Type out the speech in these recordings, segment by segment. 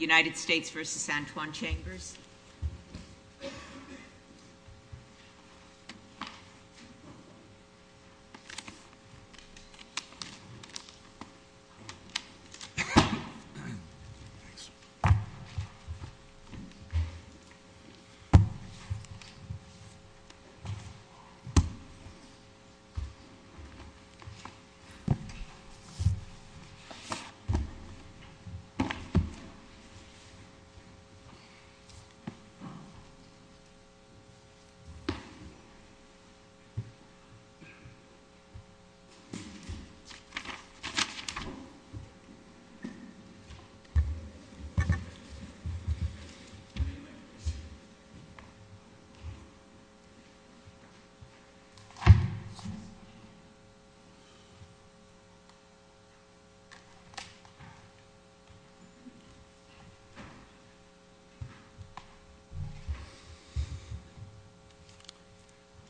United States v. San Juan Chambers.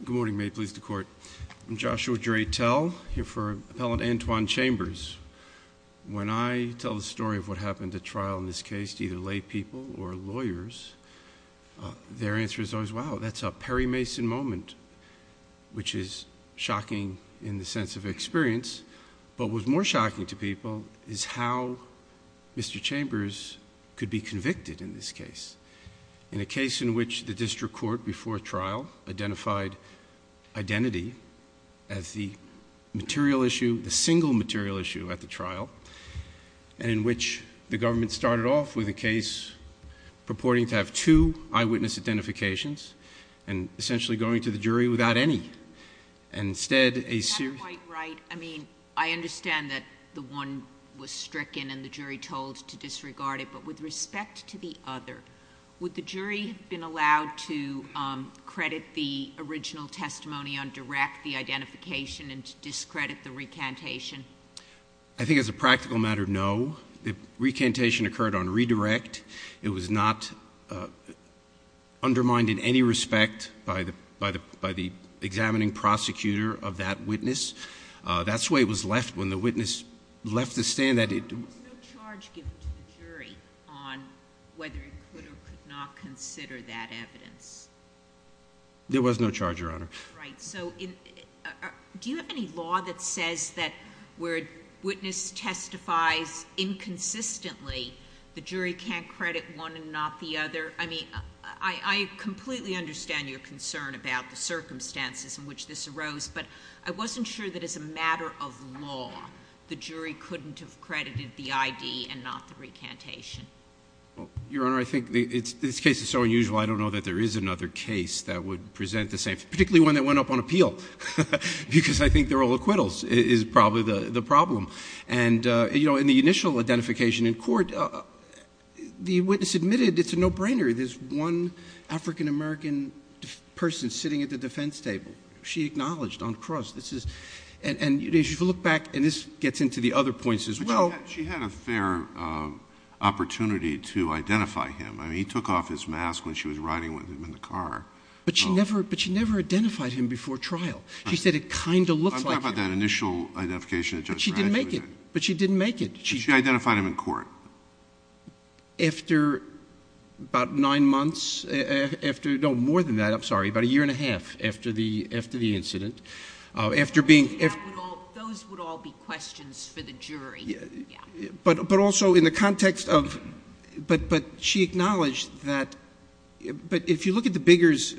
Good morning. May it please the court. I'm Joshua Dreytel, here for Appellant Antoine Chambers. When I tell the story of what happened at trial in this case to either laypeople or lawyers, their answer is always, wow, that's a Perry Mason moment, which is shocking in the sense of experience, but what was more shocking to people is how Mr. Chambers could be convicted in this case, in a case in which the district court before trial identified identity as the material issue, the single material issue at the trial, and in which the government started off with a case purporting to have two eyewitness identifications and essentially going to the jury without any, and instead a... You have a point right. I mean, I understand that the one was stricken and the jury told to disregard it, but with respect to the other, would the jury have been allowed to credit the original testimony on direct, the identification, and to discredit the recantation? I think as a practical matter, no. The recantation occurred on redirect. It was not undermined in any respect by the examining prosecutor of that witness. That's the way it was left when the witness left the stand that it... There was no charge given to the jury on whether it could or could not consider that evidence? There was no charge, Your Honor. Right. So do you have any law that says that where a witness testifies inconsistently, the jury can't credit one and not the other? I mean, I completely understand your concern about the circumstances in which this arose, but I wasn't sure that as a matter of law, the jury couldn't have credited the ID and not the recantation. Your Honor, I think this case is so unusual, I don't know that there is another case that would present the same... particularly one that went up on appeal, because I think they're all acquittals, is probably the problem. And, you know, in the initial identification in court, the witness admitted it's a no-brainer. There's one African-American person sitting at the defense table. She acknowledged on the cross. And if you look back, and this gets into the other points as well... But she had a fair opportunity to identify him. I mean, he took off his mask when she was riding with him in the car. But she never identified him before trial. She said it kind of looked like him. I'm talking about that initial identification that Judge Radich did. But she didn't make it. But she didn't make it. But she identified him in court. After about nine months, after... no, more than that, I'm sorry, about a year and a half after the incident, after being... Those would all be questions for the jury, yeah. But also in the context of... but she acknowledged that... but if you look at the Biggers,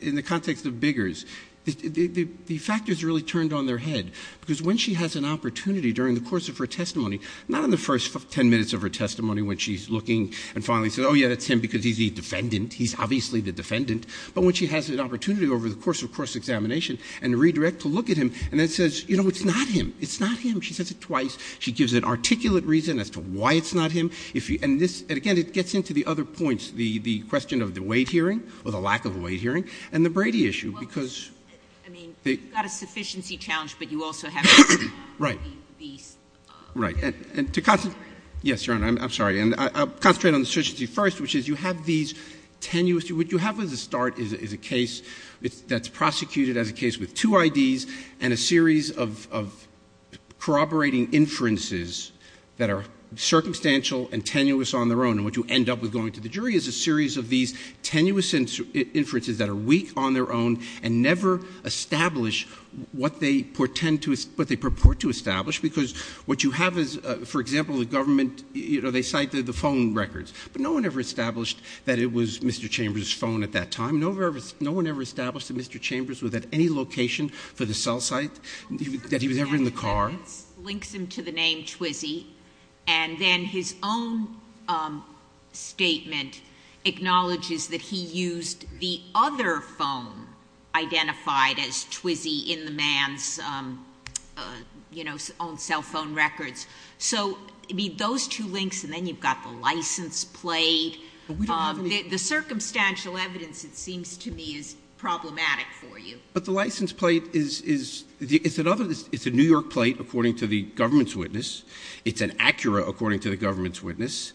in the context of Biggers, the factors really turned on their head. Because when she has an opportunity during the course of her testimony, not in the first ten minutes of her testimony when she's looking and finally says, oh, yeah, that's him because he's the defendant, he's obviously the defendant, but when she has an opportunity over the course of a cross-examination and redirect to look at him and then says, you know, it's not him, it's not him, she says it twice, she gives an articulate reason as to why it's not him, if you... and this... and again, it gets into the other points, the question of the Wade hearing or the lack of a Wade hearing and the Brady issue, because... Right.... Right. And to... Yes, Your Honor, I'm sorry. And I'll concentrate on the surgency first, which is you have these tenuous... what you have at the start is a case that's prosecuted as a case with two IDs and a series of corroborating inferences that are circumstantial and tenuous on their own. And what you end up with going to the jury is a series of these tenuous inferences that are weak on their own and never establish what they portend to... what they purport to establish, because what you have is, for example, the government... you know, they cite the phone records, but no one ever established that it was Mr. Chambers' phone at that time. No one ever established that Mr. Chambers was at any location for the cell site, that he was ever in the car... Well, the first sentence links him to the name Twizy, and then his own statement acknowledges that he used the other phone identified as Twizy in the man's, you know, own cell phone records. So, I mean, those two links, and then you've got the license plate... But we don't have any... The circumstantial evidence, it seems to me, is problematic for you. But the license plate is... it's another... it's a New York plate, according to the government's witness. It's an Acura, according to the government's witness...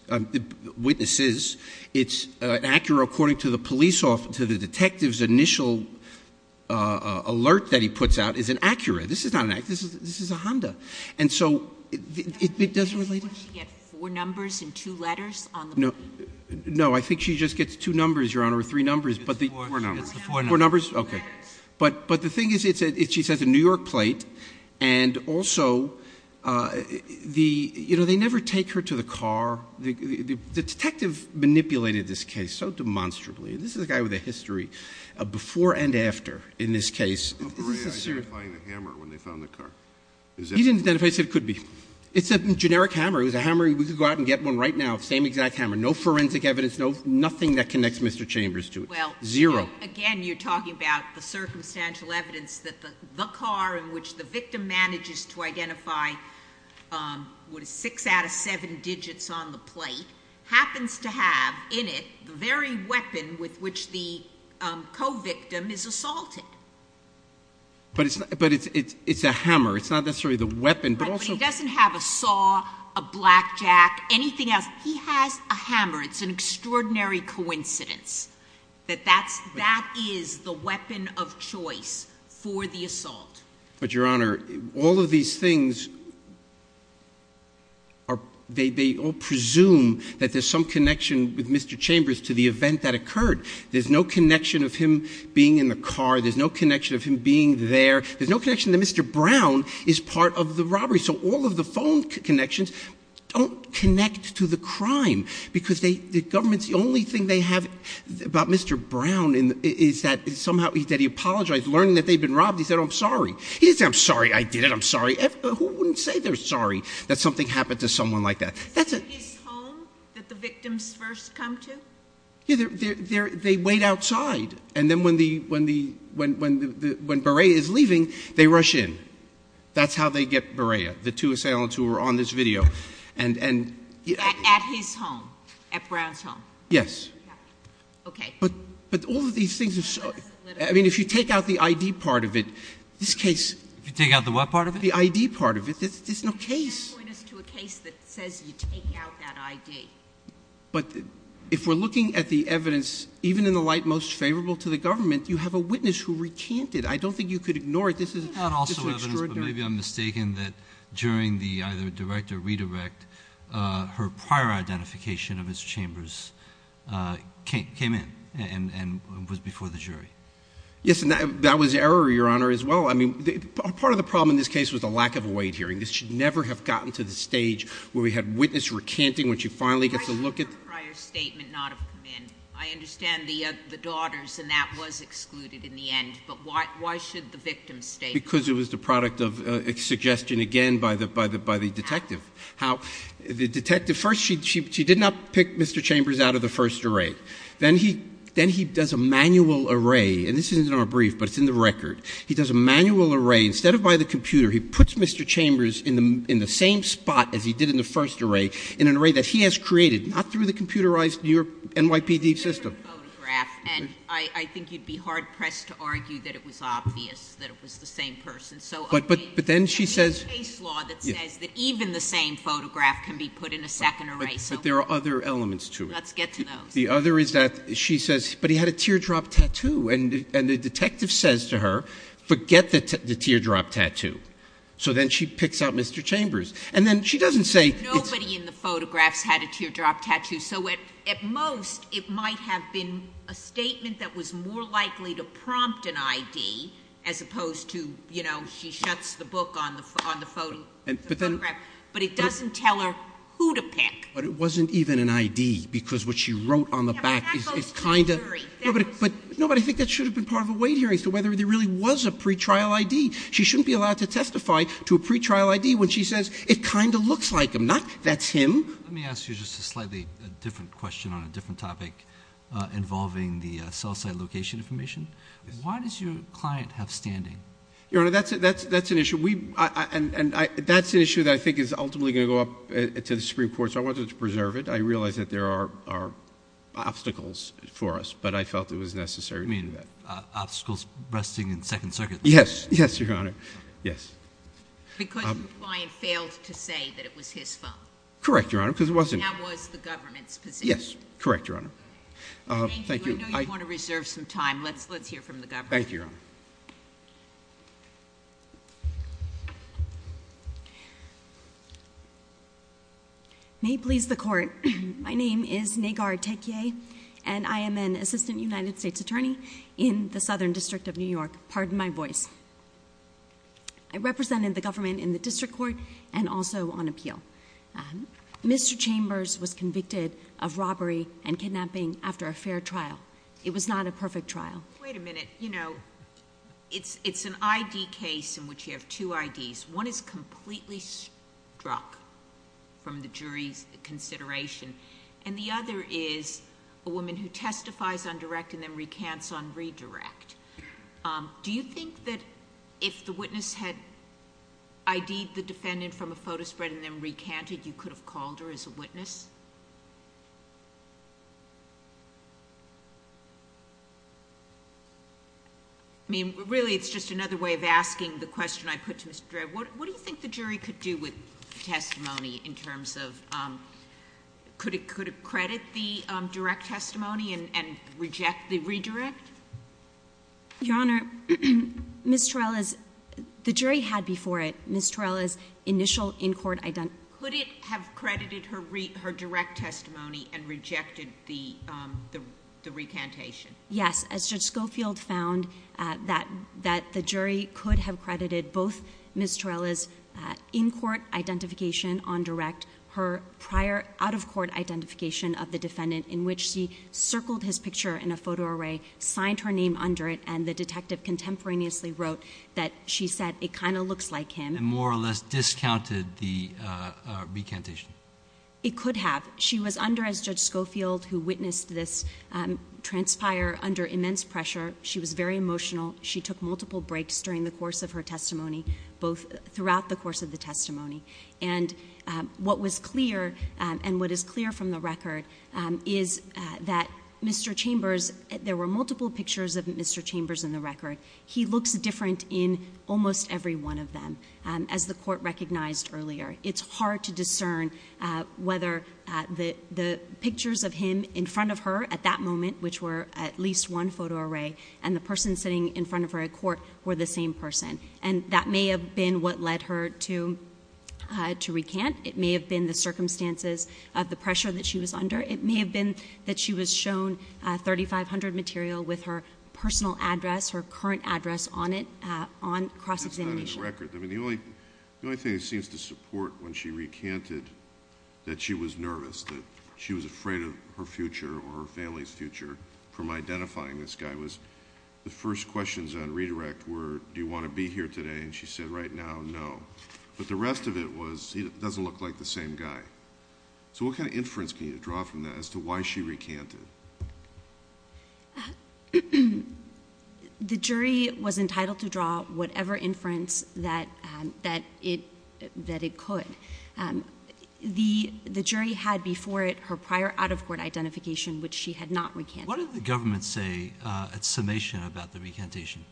witnesses. It's an Acura, according to the police... to the detective's initial alert that he puts out is an Acura. This is not an Acura. This is a Honda. And so, it doesn't relate... Does she get four numbers and two letters on the plate? No, I think she just gets two numbers, Your Honor, or three numbers, but the... Four numbers. Four numbers. Okay. But the thing is, she says it's a New York plate, and also the... you manipulated this case so demonstrably. This is a guy with a history of before and after in this case... Were they identifying the hammer when they found the car? He didn't identify it. He said it could be. It's a generic hammer. It was a hammer... we could go out and get one right now, the same exact hammer. No forensic evidence, no... nothing that connects Mr. Chambers to it. Zero. Well, again, you're talking about the circumstantial evidence that the car in which the victim is assaulted. But it's a hammer. It's not necessarily the weapon, but also... Right, but he doesn't have a saw, a blackjack, anything else. He has a hammer. It's an extraordinary coincidence that that is the weapon of choice for the assault. But, Your Honor, all of these things are... they all presume that there's some connection with Mr. Chambers to the event that occurred. There's no connection of him being in the car. There's no connection of him being there. There's no connection that Mr. Brown is part of the robbery. So all of the phone connections don't connect to the crime because they... the government's... the only thing they have about Mr. Brown is that somehow... that he apologized. Learning that they'd been robbed, he said, I'm sorry. He didn't say, I'm sorry I did it. I'm sorry. Who wouldn't say they're sorry that something happened to someone like that? Is it his home that the victims first come to? They wait outside. And then when the... when Berea is leaving, they rush in. That's how they get Berea, the two assailants who were on this video. At his home, at Brown's home? Yes. Okay. But all of these things... I mean, if you take out the ID part of it, this case... If you take out the what part of it? The ID part of it. There's no case. You're pointing us to a case that says you take out that ID. But if we're looking at the evidence, even in the light most favorable to the government, you have a witness who recanted. I don't think you could ignore it. This is... It's not also evidence, but maybe I'm mistaken that during the either direct or redirect, her prior identification of his chambers came in and was before the jury. Yes, and that was error, Your Honor, as well. I mean, part of the problem in this case was the lack of a wait hearing. This should never have gotten to the stage where we had witness recanting when she finally gets a look at... Why should her prior statement not have come in? I understand the daughters, and that was excluded in the end, but why should the victim's statement... Because it was the product of a suggestion, again, by the detective. How? The detective... First, she did not pick Mr. Chambers out of the first array. Then he does a manual array, and this isn't in our brief, but it's in the record. He does a manual array. Instead of by the computer, he puts Mr. Chambers in the same spot as he did in the first array, in an array that he has created, not through the computerized NYPD system.... photograph, and I think you'd be hard-pressed to argue that it was obvious that it was the same person. So... But then she says...... case law that says that even the same photograph can be put in a second array. So... But there are other elements to it. Let's get to those. The other is that she says, but he had a teardrop tattoo, and the detective says to her, forget the teardrop tattoo. So then she picks out Mr. Chambers. And then she doesn't say... Nobody in the photographs had a teardrop tattoo. So at most, it might have been a statement that was more likely to prompt an I.D. as opposed to, you know, she shuts the book on the photograph, but it doesn't tell her who to pick. But it wasn't even an I.D. because what she wrote on the back is kind of... Yeah, but that goes to the jury. No, but I think that should have been part of a weight hearing as to whether there really was a pretrial I.D. She shouldn't be allowed to testify to a pretrial I.D. when she says it kind of looks like him, not that's him. Let me ask you just a slightly different question on a different topic involving the cell site location information. Why does your client have standing? Your Honor, that's an issue. And that's an issue that I think is ultimately going to go up to the Supreme Court. So I wanted to preserve it. I realize that there are obstacles for us, but I felt it was necessary. You mean obstacles resting in Second Circuit? Yes. Yes, Your Honor. Yes. Because your client failed to say that it was his phone? Correct, Your Honor, because it wasn't... And that was the government's position? Yes. Correct, Your Honor. Thank you. I know you want to reserve some time. Let's hear from the government. Thank you, Your Honor. May it please the Court, my name is Negar Tekye, and I am an assistant United States attorney in the Southern District of New York. Pardon my voice. I represented the government in the district court and also on appeal. Mr. Chambers was convicted of robbery and kidnapping after a fair trial. It was not a perfect trial. It's an I.D. case in which you have two I.D.'s. One is completely struck from the jury's consideration, and the other is a woman who testifies on direct and then recants on redirect. Do you think that if the witness had I.D.'d the defendant from a photo spread and then recanted, you could have called her as a witness? I mean, really, it's just another way of asking the question I put to Mr. Torello. What do you think the jury could do with testimony in terms of... Could it credit the direct testimony and reject the redirect? Your Honor, Ms. Torello's... the jury had before it Ms. Torello's initial in-court... Could it have credited her direct testimony? and rejected the recantation? Yes, as Judge Schofield found that the jury could have credited both Ms. Torello's in-court identification on direct, her prior out-of-court identification of the defendant in which she circled his picture in a photo array, signed her name under it, and the detective contemporaneously wrote that she said, it kind of looks like him. And more or less discounted the recantation? It could have. She was under, as Judge Schofield, who witnessed this transpire under immense pressure. She was very emotional. She took multiple breaks during the course of her testimony, both throughout the course of the testimony. And what was clear, and what is clear from the record, is that Mr. Chambers... there were multiple pictures of Mr. Chambers in the record. He looks different in almost every one of them, as the court recognized earlier. It's hard to discern whether the pictures of him in front of her at that moment, which were at least one photo array, and the person sitting in front of her at court were the same person. And that may have been what led her to recant. It may have been the circumstances of the pressure that she was under. It may have been that she was shown 3500 material with her personal address, her current address on it, on cross-examination. That's not in the record. I mean, the only thing that seems to support when she recanted that she was nervous, that she was afraid of her future or her family's future from identifying this guy, was the first questions on redirect were, do you want to be here today? And she said, right now, no. But the rest of it was, he doesn't look like the same guy. So what kind of inference can you draw from that as to why she recanted? The jury was entitled to draw whatever inference that it could. The jury had before it her prior out-of-court identification, which she had not recanted. What did the government say at summation about the recantation?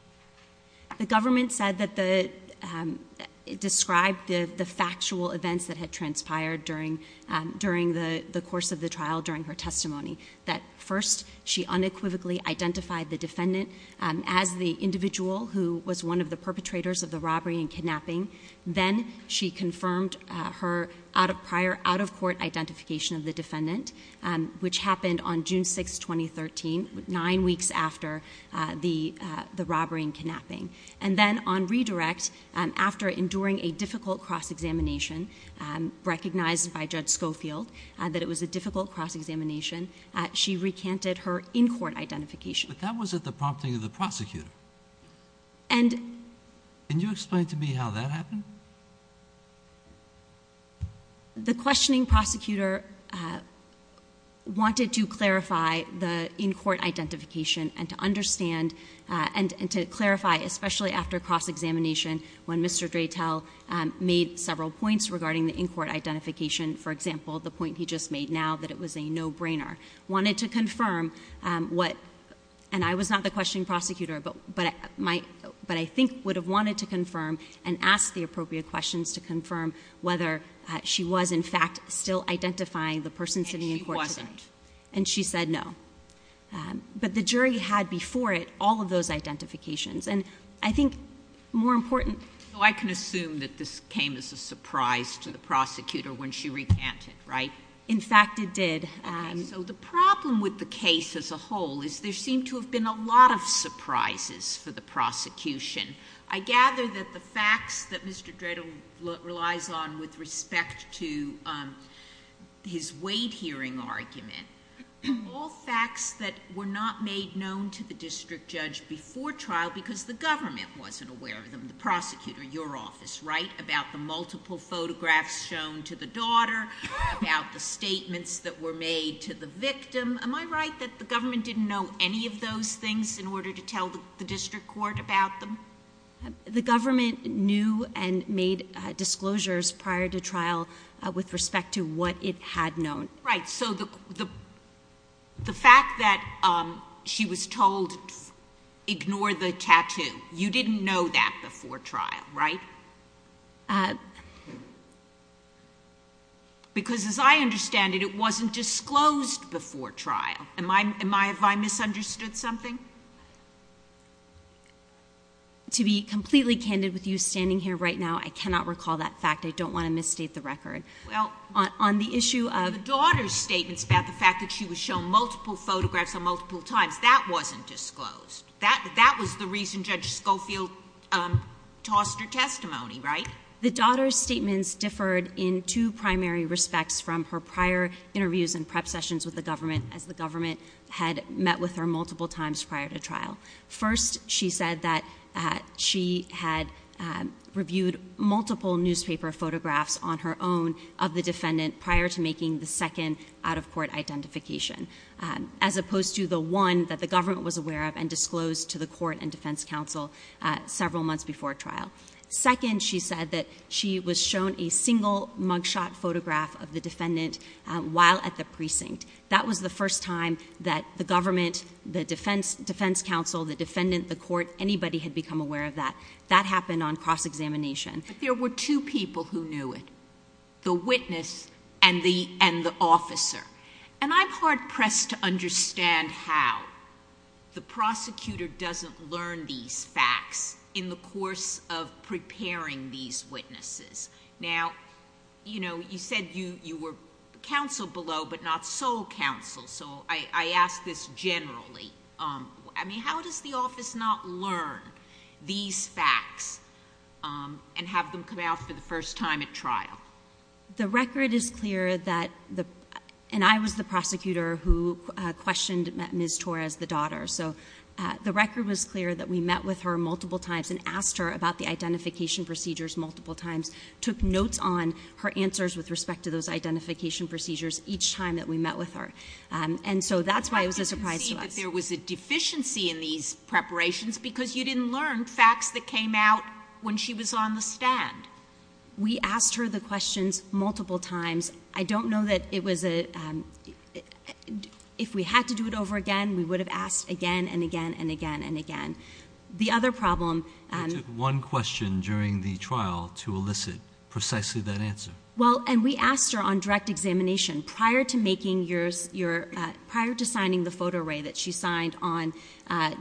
The government said that the, described the factual events that had transpired during the course of the trial, during her testimony, that first, she unequivocally identified the defendant as the individual who was one of the perpetrators of the robbery and kidnapping. Then, she confirmed her prior out-of-court identification of the defendant, which happened on June 6, 2013, nine weeks after the robbery and kidnapping. And then, on redirect, after enduring a difficult cross-examination, recognized by Judge Schofield that it was a difficult cross-examination, she recanted her in-court identification. But that was at the prompting of the prosecutor. And... Can you explain to me how that happened? The questioning prosecutor wanted to clarify the in-court identification and to understand, and to clarify, especially after cross-examination, when Mr. Dreitel made several points regarding the in-court identification. For example, the point he just made now, that it was a no-brainer. Wanted to confirm what, and I was not the questioning prosecutor, but I think would have wanted to confirm and ask the appropriate questions to confirm whether she was, in fact, still identifying the person sitting in court today. And she wasn't. And she said no. But the jury had before it all of those identifications. And I think, more important... So, I can assume that this came as a surprise to the prosecutor when she recanted, right? In fact, it did. Okay. So, the problem with the case as a whole is there seemed to have been a lot of surprises for the prosecution. I gather that the facts that Mr. Dreitel relies on with respect to his weight-hearing argument, all facts that were not made known to the district judge before trial because the government wasn't aware of them, the prosecutor, your office, right? About the multiple photographs shown to the daughter, about the statements that were made to the victim. Am I right that the government didn't know any of those things in order to tell the district court about them? The government knew and made disclosures prior to trial with respect to what it had known. Right. So, the fact that she was told, ignore the tattoo, you didn't know that before trial, right? Because as I understand it, it wasn't disclosed before trial. Have I misunderstood something? To be completely candid with you standing here right now, I cannot recall that fact. I don't want to misstate the record. Well, the daughter's statements about the fact that she was shown multiple photographs on multiple times, that wasn't disclosed. That was the reason Judge Schofield tossed her testimony, right? The daughter's statements differed in two primary respects from her prior interviews and prep sessions with the government as the government had met with her multiple times prior to trial. First, she said that she had reviewed multiple newspaper photographs on her own of the defendant prior to making the second out-of-court identification, as opposed to the one that the government was aware of and disclosed to the court and defense counsel several months before trial. Second, she said that she was shown a single mugshot photograph of the defendant while at the precinct. That was the first time that the government, the defense counsel, the defendant, the court, anybody had become aware of that. That happened on cross-examination. There were two people who knew it, the witness and the officer. I'm hard-pressed to understand how the prosecutor doesn't learn these facts in the course of preparing these witnesses. Now, you said you were counsel below but not sole counsel, so I ask this generally. How does the office not learn these facts The record is clear that, and I was the prosecutor who questioned Ms. Torres, the daughter, so the record was clear that we met with her multiple times and asked her about the identification procedures multiple times, took notes on her answers with respect to those identification procedures each time that we met with her. And so that's why it was a surprise to us. But you didn't see that there was a deficiency in these preparations because you didn't learn facts that came out when she was on the stand. We asked her the questions multiple times. I don't know that it was a, if we had to do it over again, we would have asked again and again and again and again. The other problem... It took one question during the trial to elicit precisely that answer. Well, and we asked her on direct examination, prior to making your, prior to signing the photo array that she signed on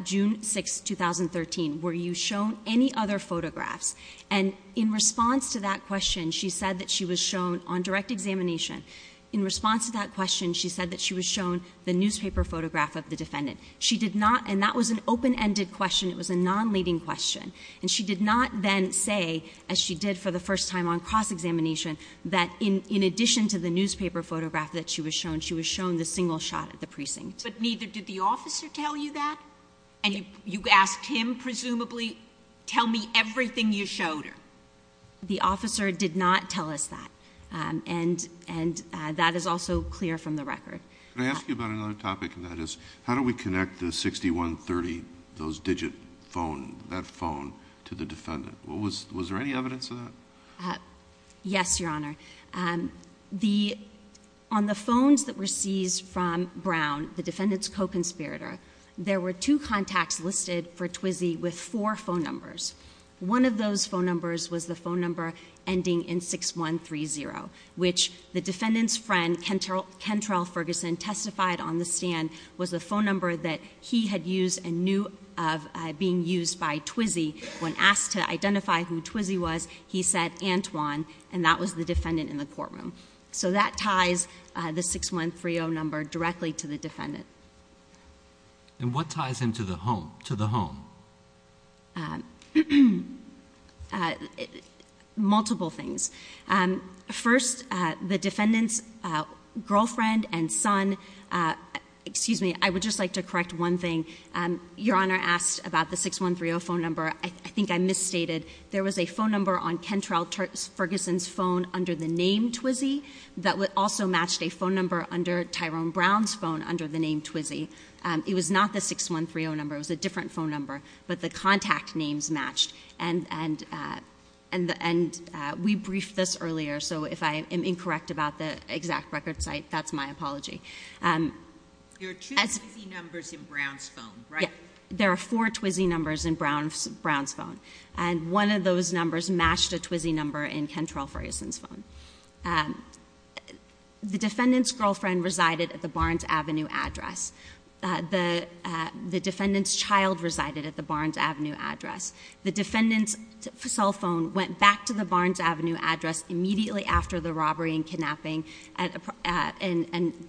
June 6, 2013, were you shown any other photographs? And in response to that question, she said that she was shown, on direct examination, in response to that question, she said that she was shown the newspaper photograph of the defendant. She did not, and that was an open-ended question, it was a non-leading question, and she did not then say, as she did for the first time on cross-examination, that in addition to the newspaper photograph that she was shown, she was shown the single shot at the precinct. But neither did the officer tell you that? And you asked him, presumably, tell me everything you showed her. The officer did not tell us that, and that is also clear from the record. Can I ask you about another topic, and that is, how do we connect the 6130, those digit phone, that phone, to the defendant? Was there any evidence of that? Yes, Your Honour. On the phones that were seized from Brown, the defendant's co-conspirator, there were two contacts listed for Twizy with four phone numbers. One of those phone numbers was the phone number ending in 6130, which the defendant's friend, Kentrell Ferguson, testified on the stand, was the phone number that he had used and knew of being used by Twizy. When asked to identify who Twizy was, he said, Antoine, and that was the defendant in the courtroom. So that ties the 6130 number directly to the defendant. And what ties him to the home? Multiple things. First, the defendant's girlfriend and son, excuse me, I would just like to correct one thing. Your Honour asked about the 6130 phone number. I think I misstated. There was a phone number on Kentrell Ferguson's phone under the name Twizy that also matched a phone number under Tyrone Brown's phone under the name Twizy. It was not the 6130 number. It was a different phone number. But the contact names matched. And we briefed this earlier. So if I am incorrect about the exact record site, that's my apology. There are two Twizy numbers in Brown's phone, right? There are four Twizy numbers in Brown's phone. And one of those numbers matched a Twizy number in Kentrell Ferguson's phone. The defendant's girlfriend resided at the Barnes Avenue address. The defendant's child resided at the Barnes Avenue address. The defendant's cell phone went back to the Barnes Avenue address immediately after the robbery and kidnapping. And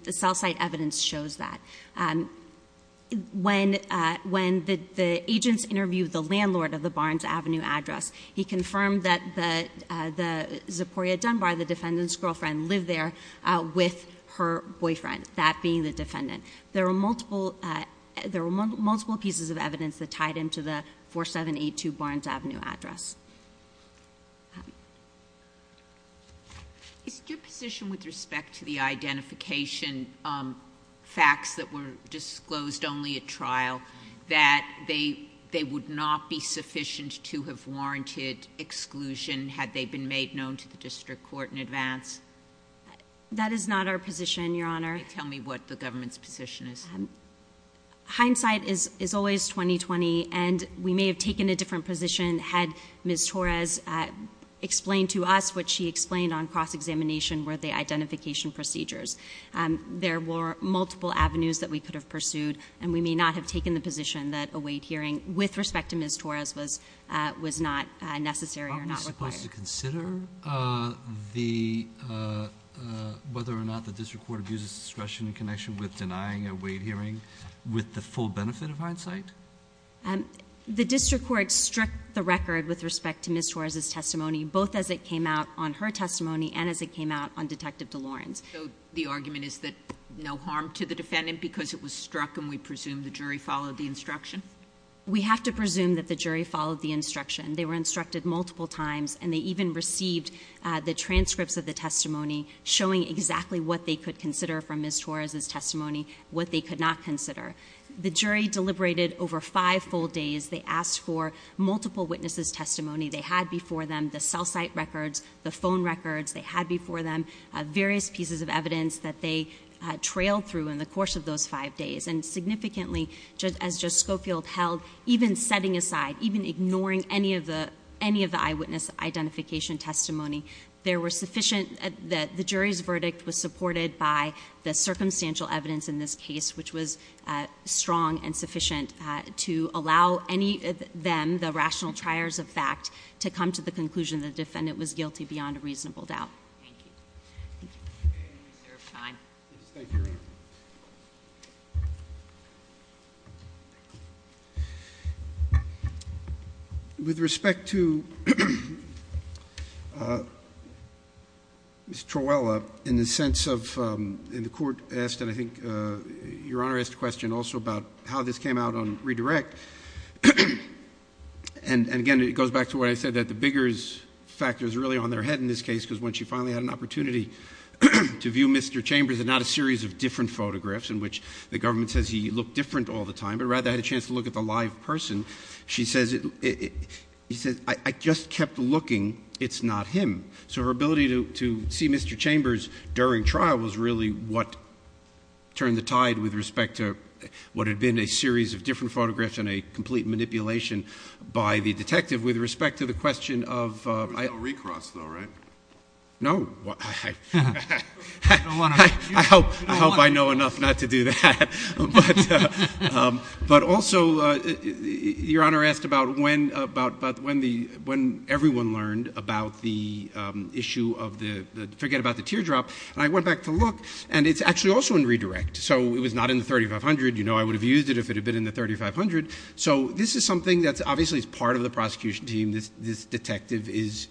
the cell site evidence shows that. When the agents interviewed the landlord of the Barnes Avenue address, he confirmed that Zeporia Dunbar, the defendant's girlfriend, lived there with her boyfriend, that being the defendant. There were multiple pieces of evidence that tied him to the 4782 Barnes Avenue address. Is it your position with respect to the identification facts that were disclosed only at trial, that they would not be sufficient to have warranted exclusion had they been made known to the district court in advance? That is not our position, Your Honor. Tell me what the government's position is. Hindsight is always 20-20. And we may have taken a different position had Ms. Torres explained to us what she explained on cross-examination were the identification procedures. There were multiple avenues that we could have pursued, and we may not have taken the position that a weight hearing, with respect to Ms. Torres, was not necessary or not required. Aren't we supposed to consider whether or not the district court abuses discretion in connection with denying a weight hearing with the full benefit of hindsight? The district court struck the record with respect to Ms. Torres' testimony, both as it came out on her testimony and as it came out on Detective DeLoren's. So the argument is that no harm to the defendant because it was struck and we presume the jury followed the instruction? We have to presume that the jury followed the instruction. They were instructed multiple times, and they even received the transcripts of the testimony showing exactly what they could consider from Ms. Torres' testimony, what they could not consider. The jury deliberated over five full days. They asked for multiple witnesses' testimony. They had before them the cell site records, the phone records. They had before them various pieces of evidence that they trailed through in the course of those five days, and significantly, as Judge Schofield held, even setting aside, even ignoring any of the eyewitness identification testimony, the jury's verdict was supported by the circumstantial evidence in this case, which was strong and sufficient to allow any of them, the rational triers of fact, to come to the conclusion the defendant was guilty beyond a reasonable doubt. Thank you. Thank you. Is there time? Yes, thank you. With respect to Ms. Troella, in the sense of, and the Court asked, and I think Your Honor asked a question also about how this came out on redirect. And again, it goes back to what I said, that the bigger factor is really on their head in this case because when she finally had an opportunity to view Mr. Chambers and not a series of different photographs in which the government says he looked different all the time, but rather had a chance to look at the live person, she says, he says, I just kept looking. It's not him. So her ability to see Mr. Chambers during trial was really what turned the tide with respect to what had been a series of different photographs and a complete manipulation by the detective with respect to the question of ‑‑ There was no recross though, right? No. I hope I know enough not to do that. But also, Your Honor asked about when everyone learned about the issue of the, forget about the teardrop, and I went back to look, and it's actually also in redirect. So it was not in the 3500. You know I would have used it if it had been in the 3500. So this is something that's obviously part of the prosecution team. This detective is,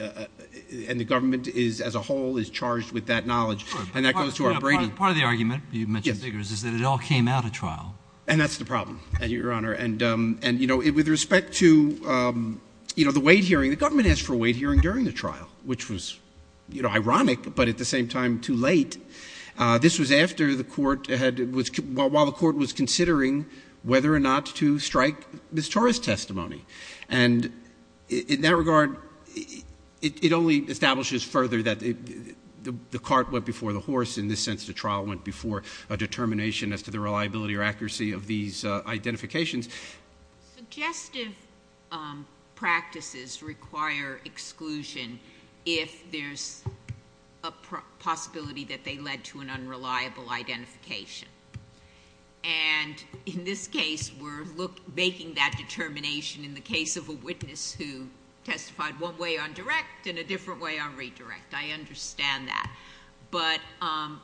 and the government as a whole, is charged with that knowledge. And that goes to our Brady. Part of the argument, you mentioned figures, is that it all came out at trial. And that's the problem, Your Honor. And, you know, with respect to, you know, the Wade hearing, the government asked for a Wade hearing during the trial, which was, you know, ironic, but at the same time too late. This was after the court had, while the court was considering whether or not to strike Ms. Torres' testimony. And in that regard, it only establishes further that the cart went before the horse in this sense the trial went before a determination as to the reliability or accuracy of these identifications. Suggestive practices require exclusion if there's a possibility that they led to an unreliable identification. And in this case, we're making that determination in the case of a witness who testified one way on direct and a different way on redirect. I understand that. But are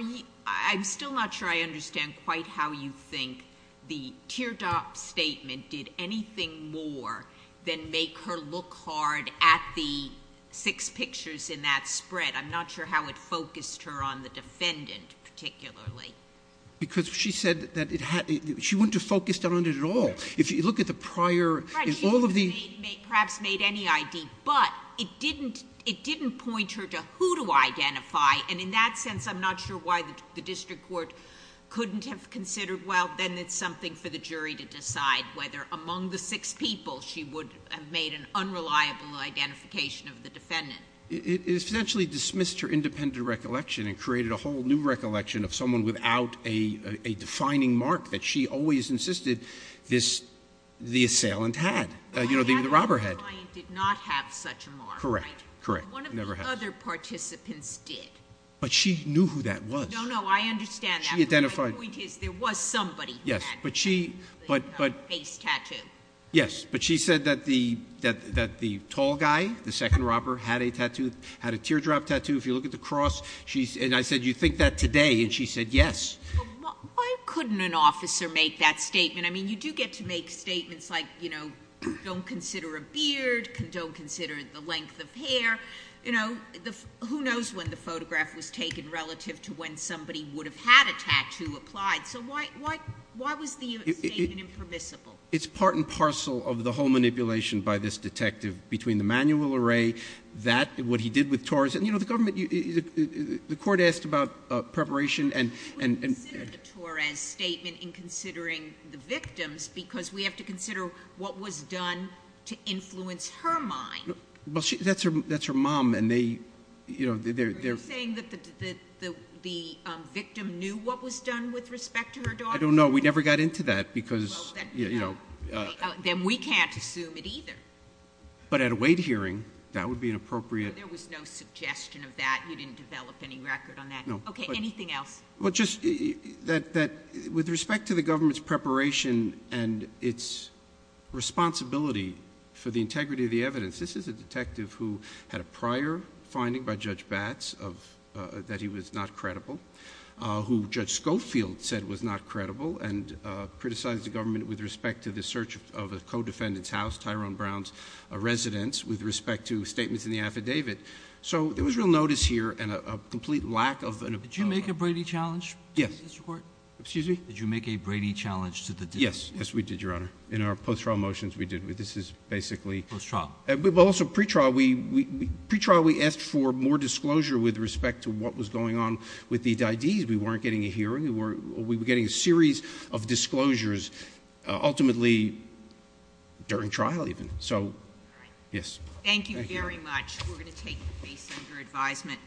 you, I'm still not sure I understand quite how you think the teardrop statement did anything more than make her look hard at the six pictures in that spread. I'm not sure how it focused her on the defendant particularly. Because she said that it had, she wouldn't have focused on it at all. If you look at the prior, if all of the. Perhaps made any ID, but it didn't point her to who to identify. And in that sense, I'm not sure why the district court couldn't have considered, well, then it's something for the jury to decide whether among the six people she would have made an unreliable identification of the defendant. It essentially dismissed her independent recollection and created a whole new recollection of someone without a defining mark that she always insisted the assailant had. The robber had. The client did not have such a mark, right? Correct, correct. One of the other participants did. But she knew who that was. No, no, I understand that. She identified. My point is there was somebody who had a face tattoo. Yes, but she said that the tall guy, the second robber, had a teardrop tattoo. If you look at the cross, and I said, you think that today? And she said, yes. Why couldn't an officer make that statement? I mean, you do get to make statements like don't consider a beard, don't consider the length of hair. Who knows when the photograph was taken relative to when somebody would have had a tattoo applied. So why was the statement impermissible? It's part and parcel of the whole manipulation by this detective between the manual array, that, what he did with Torres, and the government, the court asked about preparation. We would consider the Torres statement in considering the victims because we have to consider what was done to influence her mind. That's her mom. Are you saying that the victim knew what was done with respect to her daughter? I don't know. We never got into that because, you know. Then we can't assume it either. But at a weight hearing, that would be an appropriate. There was no suggestion of that. You didn't develop any record on that. Okay. Anything else? With respect to the government's preparation and its responsibility for the integrity of the evidence, this is a detective who had a prior finding by Judge Batts that he was not credible, who Judge Schofield said was not credible and criticized the government with respect to the search of a co-defendant's house, Tyrone Brown's residence, with respect to statements in the affidavit. So there was real notice here and a complete lack of an opinion. Did you make a Brady challenge to this court? Yes. Excuse me? Did you make a Brady challenge to the defense? Yes. Yes, we did, Your Honor. In our post-trial motions, we did. This is basically. Post-trial. Also pre-trial. Pre-trial, we asked for more disclosure with respect to what was going on with the ID's. We weren't getting a hearing. We were getting a series of disclosures, ultimately during trial even. All right. Yes. Thank you very much. We're going to take the case under advisement.